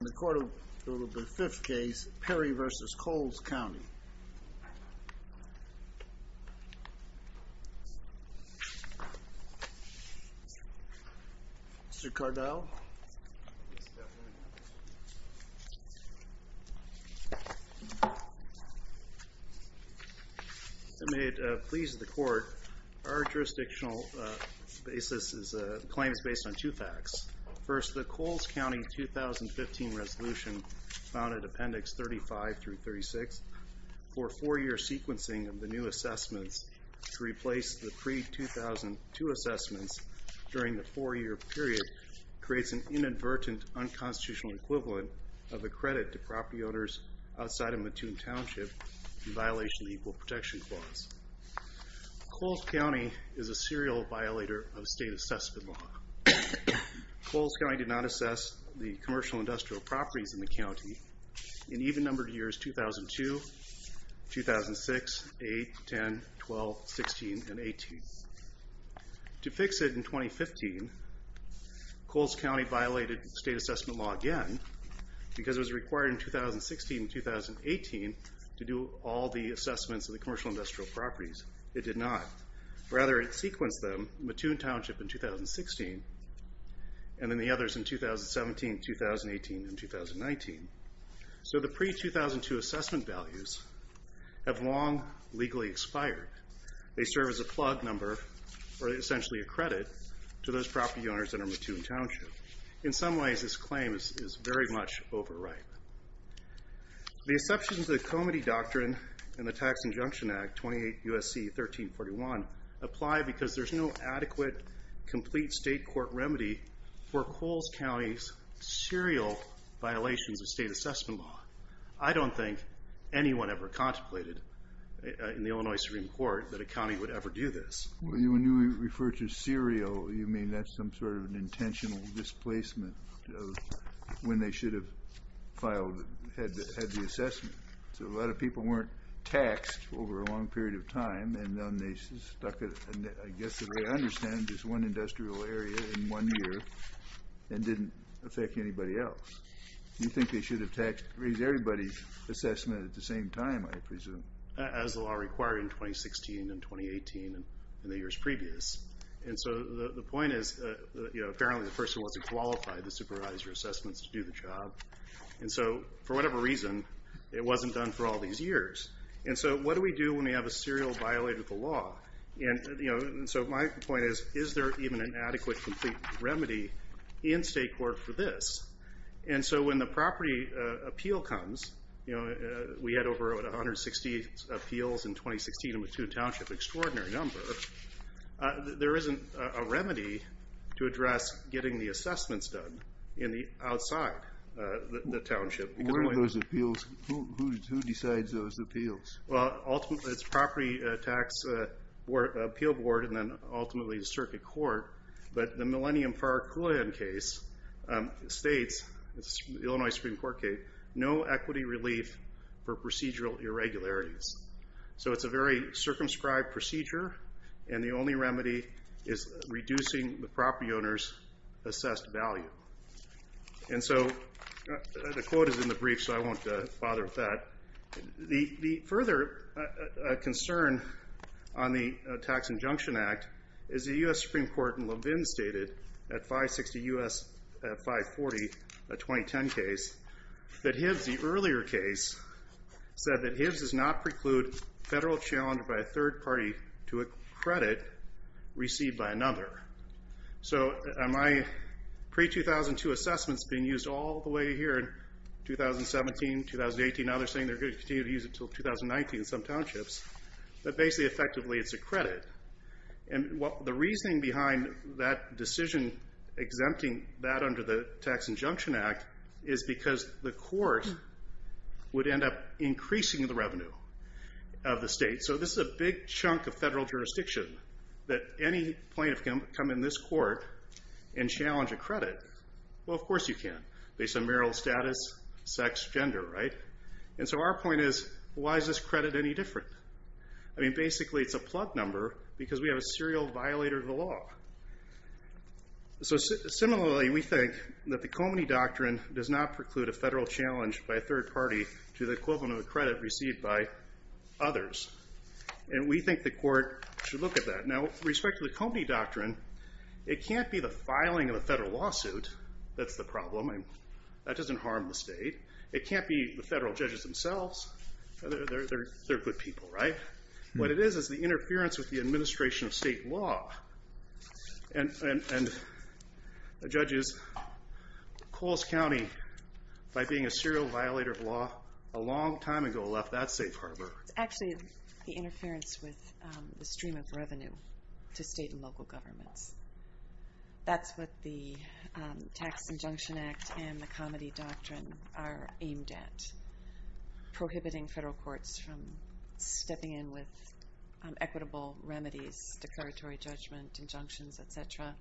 In the court of the fifth case, Perry v. Coles County. Mr. Cardell? May it please the court, our jurisdictional claim is based on two facts. First, the Coles County 2015 resolution found in appendix 35-36 for four year sequencing of the new assessments to replace the pre-2002 assessments during the four year period creates an inadvertent unconstitutional equivalent of a credit to property owners outside of Mattoon Township in violation of the Equal Protection Clause. Coles County is a serial violator of state assessment law. Coles County did not assess the commercial industrial properties in the county in even numbered years 2002, 2006, 8, 10, 12, 16, and 18. To fix it in 2015, Coles County violated state assessment law again because it was required in 2016 and 2018 to do all the assessments of the commercial industrial properties. It did not. Rather, it sequenced them in Mattoon Township in 2016 and then the others in 2017, 2018, and 2019. So the pre-2002 assessment values have long legally expired. They serve as a plug number, or essentially a credit, to those property owners that are in Mattoon Township. In some ways, this claim is very much overripe. The exceptions to the Comity Doctrine and the Tax Injunction Act, 28 U.S.C. 1341, apply because there's no adequate, complete state court remedy for Coles County's serial violations of state assessment law. I don't think anyone ever contemplated in the Illinois Supreme Court that a county would ever do this. When you refer to serial, you mean that's some sort of an intentional displacement of when they should have had the assessment. So a lot of people weren't taxed over a long period of time, and then they stuck it, I guess the way I understand it, just one industrial area in one year and didn't affect anybody else. You think they should have taxed everybody's assessment at the same time, I presume. As the law required in 2016 and 2018 and the years previous. And so the point is, apparently the person wasn't qualified to supervise your assessments to do the job. And so for whatever reason, it wasn't done for all these years. And so what do we do when we have a serial violate of the law? And so my point is, is there even an adequate, complete remedy in state court for this? And so when the property appeal comes, we had over 160 appeals in 2016, and we have two townships, an extraordinary number. There isn't a remedy to address getting the assessments done outside the township. Who decides those appeals? Well, ultimately it's property tax appeal board, and then ultimately the circuit court. But the Millennium Park case states, the Illinois Supreme Court case, no equity relief for procedural irregularities. So it's a very circumscribed procedure, and the only remedy is reducing the property owner's assessed value. And so the quote is in the brief, so I won't bother with that. The further concern on the Tax Injunction Act is the U.S. Supreme Court in Levin stated, at 560 U.S. 540, a 2010 case, that Hibbs, the earlier case, said that Hibbs does not preclude federal challenge by a third party to a credit received by another. So my pre-2002 assessments being used all the way here in 2017, 2018, now they're saying they're going to continue to use it until 2019 in some townships, but basically effectively it's a credit. And the reasoning behind that decision exempting that under the Tax Injunction Act is because the court would end up increasing the revenue of the state. So this is a big chunk of federal jurisdiction that any plaintiff can come in this court and challenge a credit. Well, of course you can, based on marital status, sex, gender, right? And so our point is, why is this credit any different? I mean, basically it's a plug number because we have a serial violator of the law. So similarly, we think that the Comedy Doctrine does not preclude a federal challenge by a third party to the equivalent of a credit received by others. And we think the court should look at that. Now, with respect to the Comedy Doctrine, it can't be the filing of a federal lawsuit that's the problem. That doesn't harm the state. It can't be the federal judges themselves. They're good people, right? What it is is the interference with the administration of state law. And judges cause county by being a serial violator of law a long time ago left that safe harbor. It's actually the interference with the stream of revenue to state and local governments. That's what the Tax Injunction Act and the Comedy Doctrine are aimed at, prohibiting federal courts from stepping in with equitable remedies, declaratory judgment, injunctions, et cetera,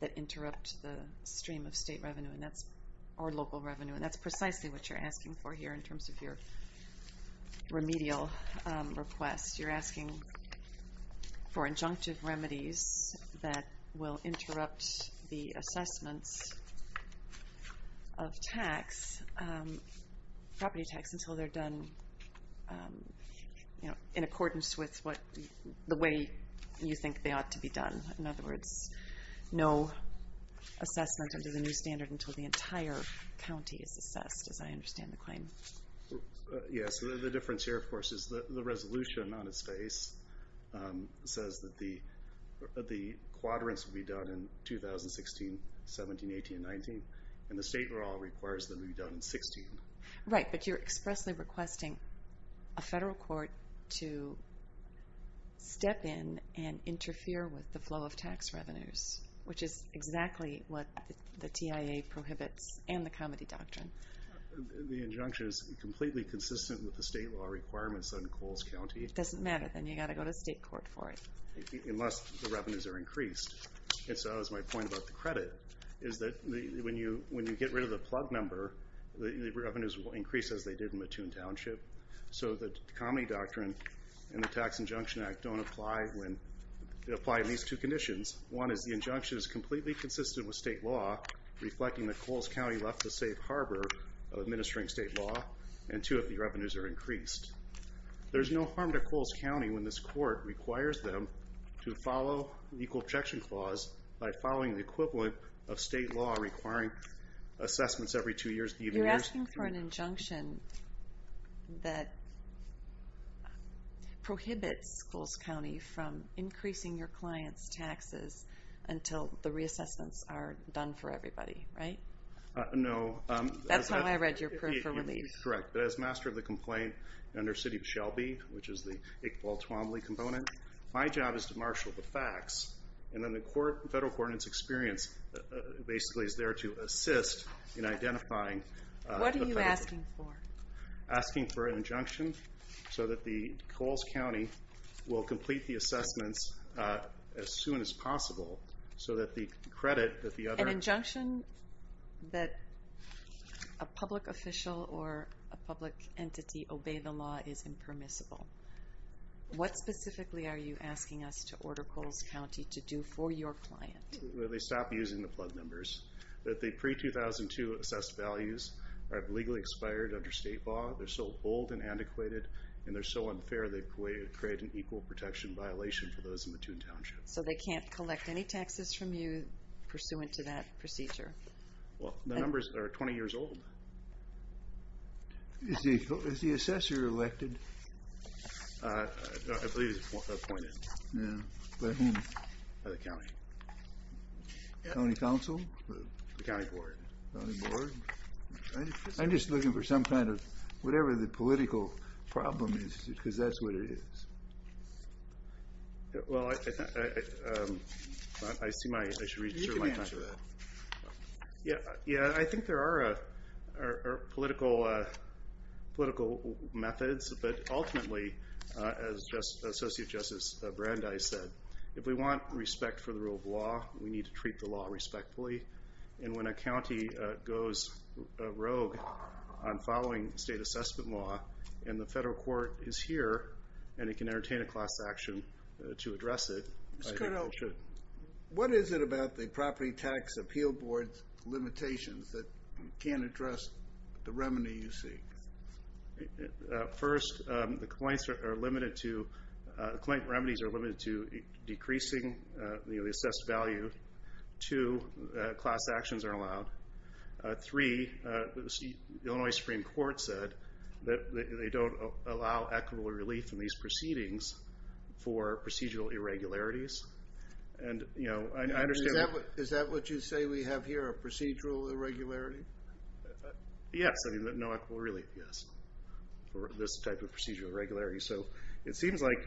that interrupt the stream of state revenue or local revenue. And that's precisely what you're asking for here in terms of your remedial request. You're asking for injunctive remedies that will interrupt the assessments of property tax until they're done in accordance with the way you think they ought to be done. In other words, no assessment under the new standard until the entire county is assessed, as I understand the claim. Yes, the difference here, of course, is the resolution on its face says that the quadrants will be done in 2016, 17, 18, and 19, and the state law requires them to be done in 16. Right, but you're expressly requesting a federal court to step in and interfere with the flow of tax revenues, which is exactly what the TIA prohibits and the Comedy Doctrine. The injunction is completely consistent with the state law requirements on Coles County. It doesn't matter, then you've got to go to state court for it. Unless the revenues are increased. And so that was my point about the credit, is that when you get rid of the plug number, the revenues will increase as they did in Mattoon Township. So the Comedy Doctrine and the Tax Injunction Act don't apply in these two conditions. One is the injunction is completely consistent with state law, reflecting that Coles County left the safe harbor of administering state law. And two, if the revenues are increased. There's no harm to Coles County when this court requires them to follow the Equal Objection Clause by following the equivalent of state law requiring assessments every two years. You're asking for an injunction that prohibits Coles County from increasing your clients' taxes until the reassessments are done for everybody, right? No. That's how I read your proof of relief. Correct. As master of the complaint under City of Shelby, which is the Iqbal Twombly component, my job is to marshal the facts. And then the federal coordinates experience basically is there to assist in identifying... What are you asking for? Asking for an injunction so that Coles County will complete the assessments as soon as possible so that the credit that the other... An injunction that a public official or a public entity obey the law is impermissible. What specifically are you asking us to order Coles County to do for your client? Well, they stop using the plug numbers. The pre-2002 assessed values are legally expired under state law. They're so old and antiquated, and they're so unfair, they create an equal protection violation for those in Mattoon Township. So they can't collect any taxes from you pursuant to that procedure? Well, the numbers are 20 years old. Is the assessor elected? I believe he's appointed. By whom? By the county. County council? The county board. The county board? I'm just looking for some kind of... Whatever the political problem is, because that's what it is. Well, I see my... You can answer that. Yeah, I think there are political methods, but ultimately, as Associate Justice Brandeis said, if we want respect for the rule of law, we need to treat the law respectfully. And when a county goes rogue on following state assessment law, and the federal court is here and it can entertain a class action to address it, I think it should. What is it about the Property Tax Appeal Board's limitations that can't address the remedy you seek? First, the complaint remedies are limited to decreasing the assessed value. Two, class actions are allowed. Three, the Illinois Supreme Court said that they don't allow equitable relief from these proceedings for procedural irregularities. Is that what you say we have here, a procedural irregularity? Yes. No equitable relief, yes, for this type of procedural irregularity. So it seems like,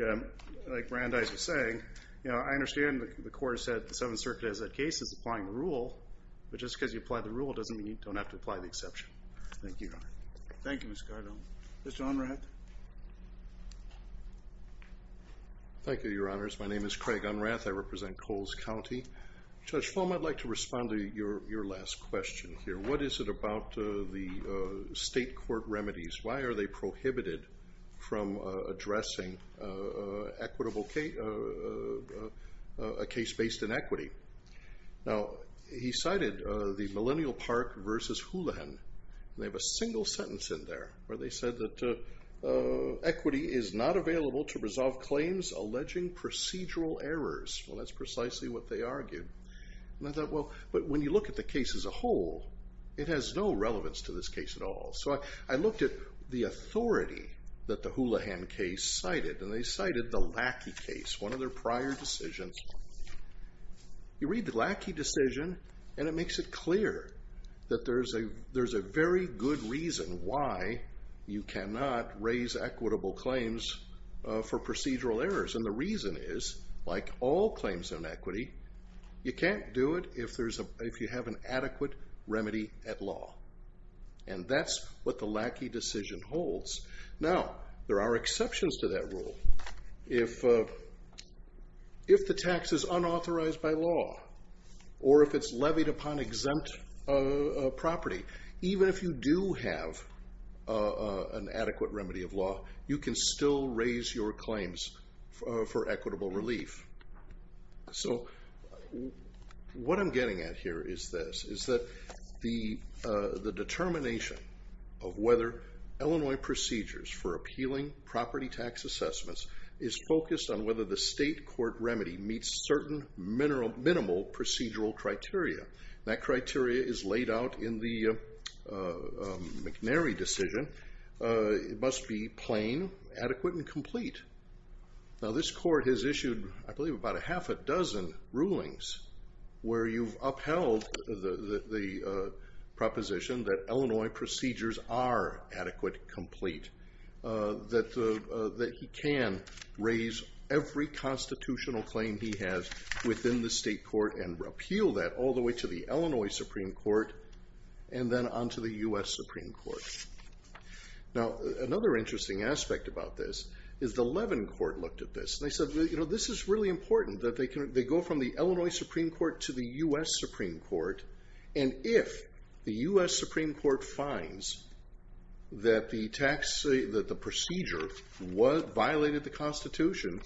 like Brandeis was saying, I understand the court has said the Seventh Circuit, as that case, is applying the rule, but just because you apply the rule doesn't mean you don't have to apply the exception. Thank you. Thank you, Mr. Cardone. Mr. Unrath. Thank you, Your Honors. My name is Craig Unrath. I represent Coles County. Judge Fulmer, I'd like to respond to your last question here. What is it about the state court remedies? Why are they prohibited from addressing a case based in equity? Now, he cited the Millennial Park v. Houlihan, and they have a single sentence in there where they said that equity is not available to resolve claims alleging procedural errors. Well, that's precisely what they argued. And I thought, well, but when you look at the case as a whole, it has no relevance to this case at all. So I looked at the authority that the Houlihan case cited, and they cited the Lackey case, one of their prior decisions. You read the Lackey decision, and it makes it clear that there's a very good reason why you cannot raise equitable claims for procedural errors. And the reason is, like all claims in equity, you can't do it if you have an adequate remedy at law. And that's what the Lackey decision holds. Now, there are exceptions to that rule. If the tax is unauthorized by law, or if it's levied upon exempt property, even if you do have an adequate remedy of law, you can still raise your claims for equitable relief. So what I'm getting at here is this, is that the determination of whether Illinois procedures for appealing property tax assessments is focused on whether the state court remedy meets certain minimal procedural criteria. That criteria is laid out in the McNary decision. It must be plain, adequate, and complete. Now, this court has issued, I believe, about a half a dozen rulings where you've upheld the proposition that Illinois procedures are adequate, complete, that he can raise every constitutional claim he has within the state court and repeal that all the way to the Illinois Supreme Court and then on to the U.S. Supreme Court. Now, another interesting aspect about this is the Levin Court looked at this. They said, you know, this is really important, that they go from the Illinois Supreme Court to the U.S. Supreme Court, and if the U.S. Supreme Court finds that the procedure violated the Constitution,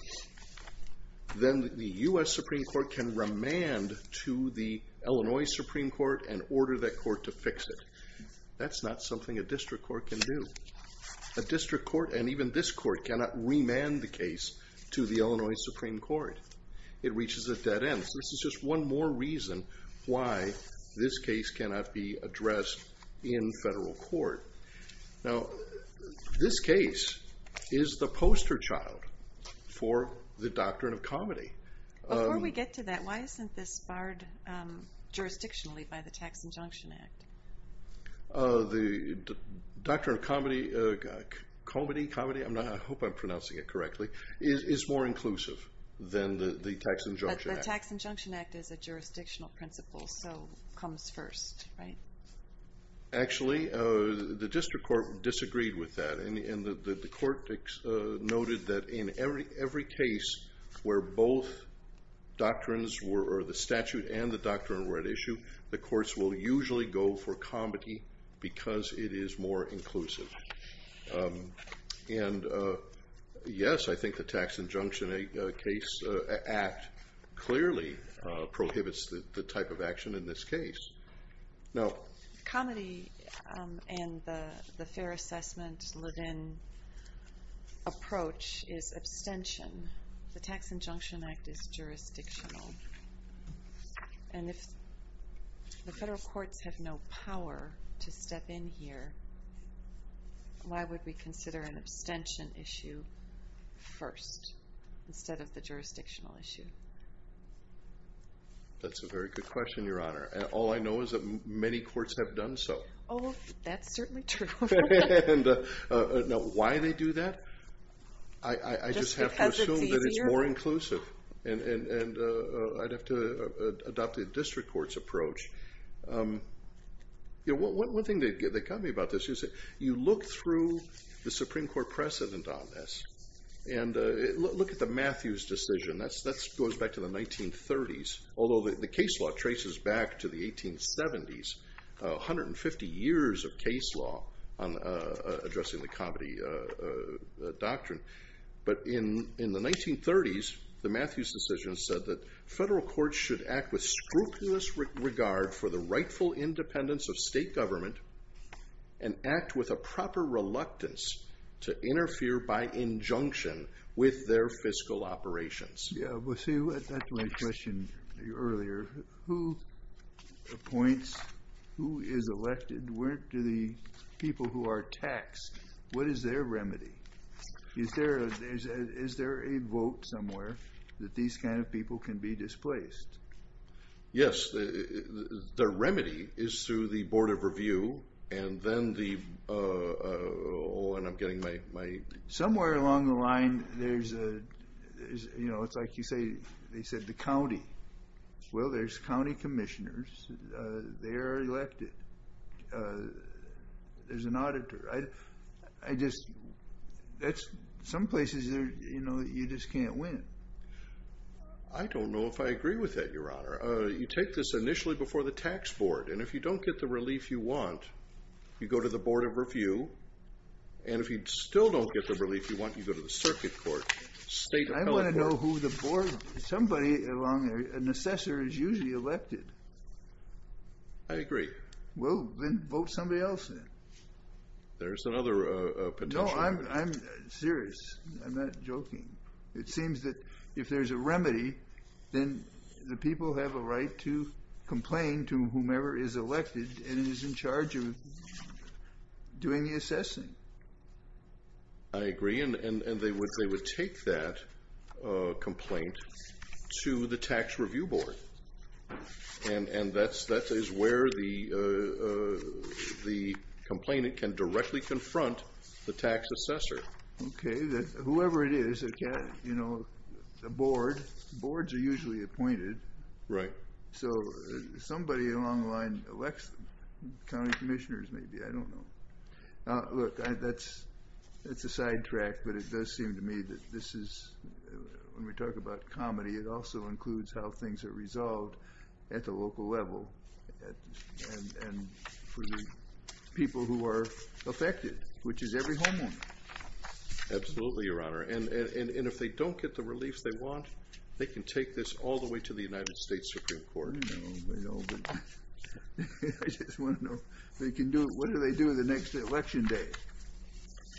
then the U.S. Supreme Court can remand to the Illinois Supreme Court and order that court to fix it. That's not something a district court can do. A district court, and even this court, cannot remand the case to the Illinois Supreme Court. It reaches a dead end. This is just one more reason why this case cannot be addressed in federal court. Now, this case is the poster child for the doctrine of comedy. Before we get to that, why isn't this barred jurisdictionally by the Tax Injunction Act? The doctrine of comedy is more inclusive than the Tax Injunction Act. But the Tax Injunction Act is a jurisdictional principle, so it comes first, right? Actually, the district court disagreed with that, and the court noted that in every case where both doctrines were, or the statute and the doctrine were at issue, the courts will usually go for comedy because it is more inclusive. And, yes, I think the Tax Injunction Act clearly prohibits the type of action in this case. Now, comedy and the fair assessment within approach is abstention. The Tax Injunction Act is jurisdictional. And if the federal courts have no power to step in here, why would we consider an abstention issue first instead of the jurisdictional issue? That's a very good question, Your Honor. All I know is that many courts have done so. Oh, that's certainly true. Now, why they do that, I just have to assume that it's more inclusive. And I'd have to adopt the district court's approach. One thing that got me about this is you look through the Supreme Court precedent on this and look at the Matthews decision. That goes back to the 1930s, although the case law traces back to the 1870s, 150 years of case law on addressing the comedy doctrine. But in the 1930s, the Matthews decision said that federal courts should act with scrupulous regard for the rightful independence of state government and act with a proper reluctance to interfere by injunction with their fiscal operations. Yeah, but see, that's my question earlier. Who appoints, who is elected? Where do the people who are taxed, what is their remedy? Is there a vote somewhere that these kind of people can be displaced? Yes, their remedy is through the Board of Review and then the, oh, and I'm getting my... Somewhere along the line, there's a, you know, it's like you say, they said the county. Well, there's county commissioners. They are elected. There's an auditor. I just, that's, some places, you know, you just can't win. I don't know if I agree with that, Your Honor. You take this initially before the tax board, and if you don't get the relief you want, you go to the Board of Review, and if you still don't get the relief you want, you go to the circuit court, state appellate court. I want to know who the board, somebody along there, an assessor is usually elected. I agree. Well, then vote somebody else in. There's another potential. No, I'm serious. I'm not joking. It seems that if there's a remedy, then the people have a right to complain to whomever is elected and is in charge of doing the assessing. I agree, and they would take that complaint to the tax review board, and that is where the complainant can directly confront the tax assessor. Okay. Whoever it is, you know, a board, boards are usually appointed. Right. So somebody along the line elects them, county commissioners maybe. I don't know. Look, that's a sidetrack, but it does seem to me that this is, when we talk about comedy, it also includes how things are resolved at the local level and for the people who are affected, which is every homeowner. Absolutely, Your Honor, and if they don't get the relief they want, they can take this all the way to the United States Supreme Court. I know, I know, but I just want to know, what do they do the next election day?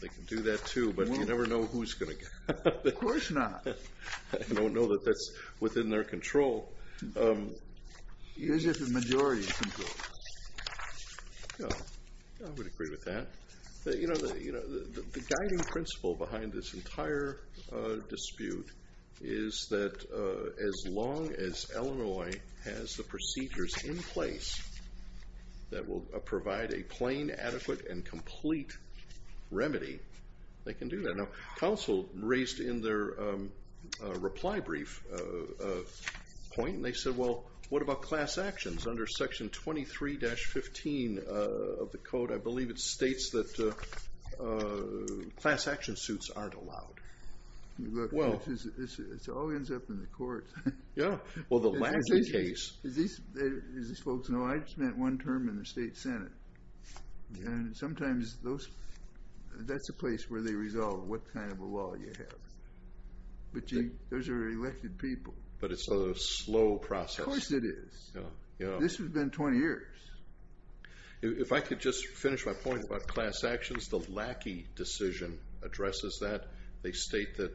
They can do that too, but you never know who's going to get it. Of course not. I don't know that that's within their control. It is within the majority's control. I would agree with that. The guiding principle behind this entire dispute is that as long as Illinois has the procedures in place that will provide a plain, adequate, and complete remedy, they can do that. Now, counsel raised in their reply brief a point, and they said, well, what about class actions under Section 23-15 of the code? I believe it states that class action suits aren't allowed. Well, it all ends up in the courts. Yeah, well, the last case. As these folks know, I just met one term in the state senate, and sometimes that's a place where they resolve what kind of a law you have. But those are elected people. But it's a slow process. Of course it is. This has been 20 years. If I could just finish my point about class actions, the Lackey decision addresses that. They state that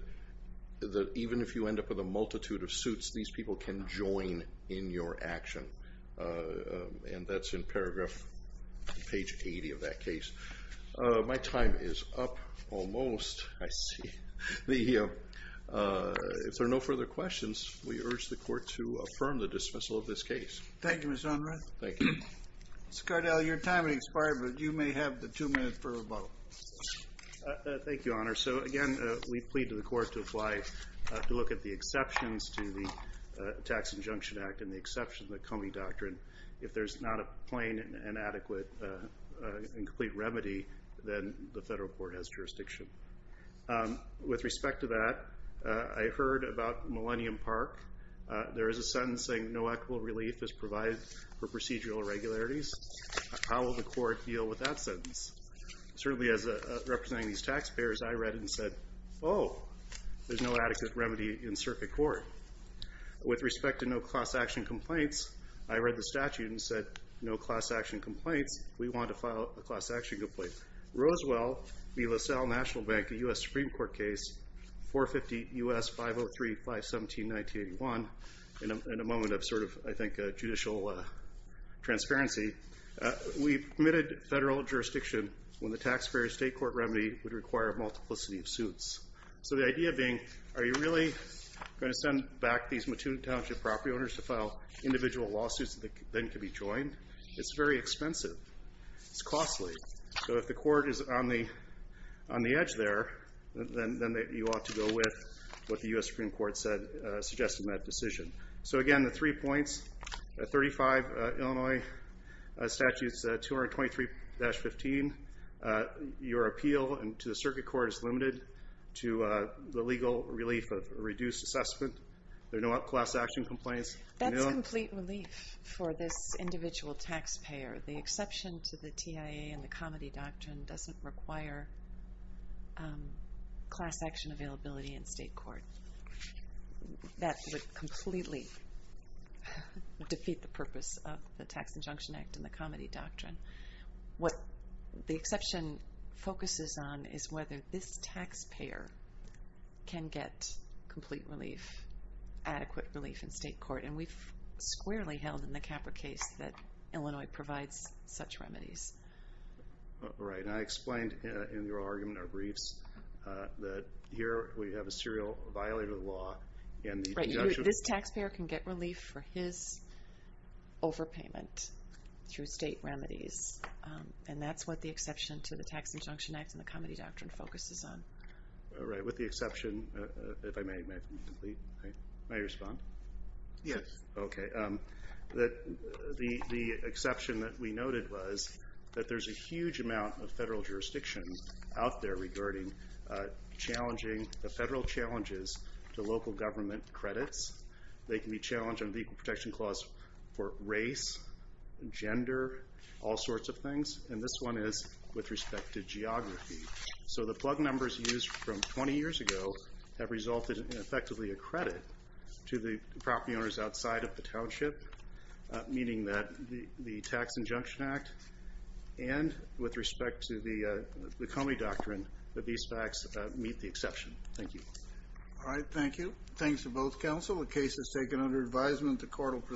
even if you end up with a multitude of suits, these people can join in your action, and that's in paragraph page 80 of that case. My time is up almost. I see. If there are no further questions, we urge the court to affirm the dismissal of this case. Thank you, Mr. Unruh. Thank you. Mr. Cardale, your time has expired, but you may have the two minutes for a vote. Thank you, Your Honor. So, again, we plead to the court to apply, to look at the exceptions to the Tax Injunction Act and the exception to the Comey Doctrine. If there's not a plain and adequate and complete remedy, then the federal court has jurisdiction. With respect to that, I heard about Millennium Park. There is a sentence saying no equitable relief is provided for procedural irregularities. How will the court deal with that sentence? Certainly as a representative of these taxpayers, I read it and said, oh, there's no adequate remedy in circuit court. With respect to no class action complaints, I read the statute and said no class action complaints. We want to file a class action complaint. Roswell v. LaSalle National Bank, a U.S. Supreme Court case, 450 U.S. 503-517-1981, in a moment of sort of, I think, judicial transparency, we permitted federal jurisdiction when the taxpayer state court remedy would require a multiplicity of suits. So the idea being, are you really going to send back these Mattoon Township property owners to file individual lawsuits that then can be joined? It's very expensive. It's costly. So if the court is on the edge there, then you ought to go with what the U.S. Supreme Court suggested in that decision. So again, the three points, 35 Illinois Statutes 223-15, your appeal to the circuit court is limited to the legal relief of reduced assessment. There are no class action complaints. That's complete relief for this individual taxpayer. The exception to the TIA and the Comity Doctrine doesn't require class action availability in state court. That would completely defeat the purpose of the Tax Injunction Act and the Comity Doctrine. What the exception focuses on is whether this taxpayer can get complete relief, adequate relief in state court. And we've squarely held in the Capra case that Illinois provides such remedies. Right. And I explained in your argument, our briefs, that here we have a serial violator of the law and the injunction. This taxpayer can get relief for his overpayment through state remedies, and that's what the exception to the Tax Injunction Act and the Comity Doctrine focuses on. All right. With the exception, if I may, may I respond? Yes. Okay. The exception that we noted was that there's a huge amount of federal jurisdiction out there regarding challenging the federal challenges to local government credits. They can be challenged under the Equal Protection Clause for race, gender, all sorts of things. And this one is with respect to geography. So the plug numbers used from 20 years ago have resulted in effectively a credit to the property owners outside of the township, meaning that the Tax Injunction Act and with respect to the Comity Doctrine, that these facts meet the exception. Thank you. All right. Thank you. Thanks to both counsel. The case is taken under advisement. The court will proceed.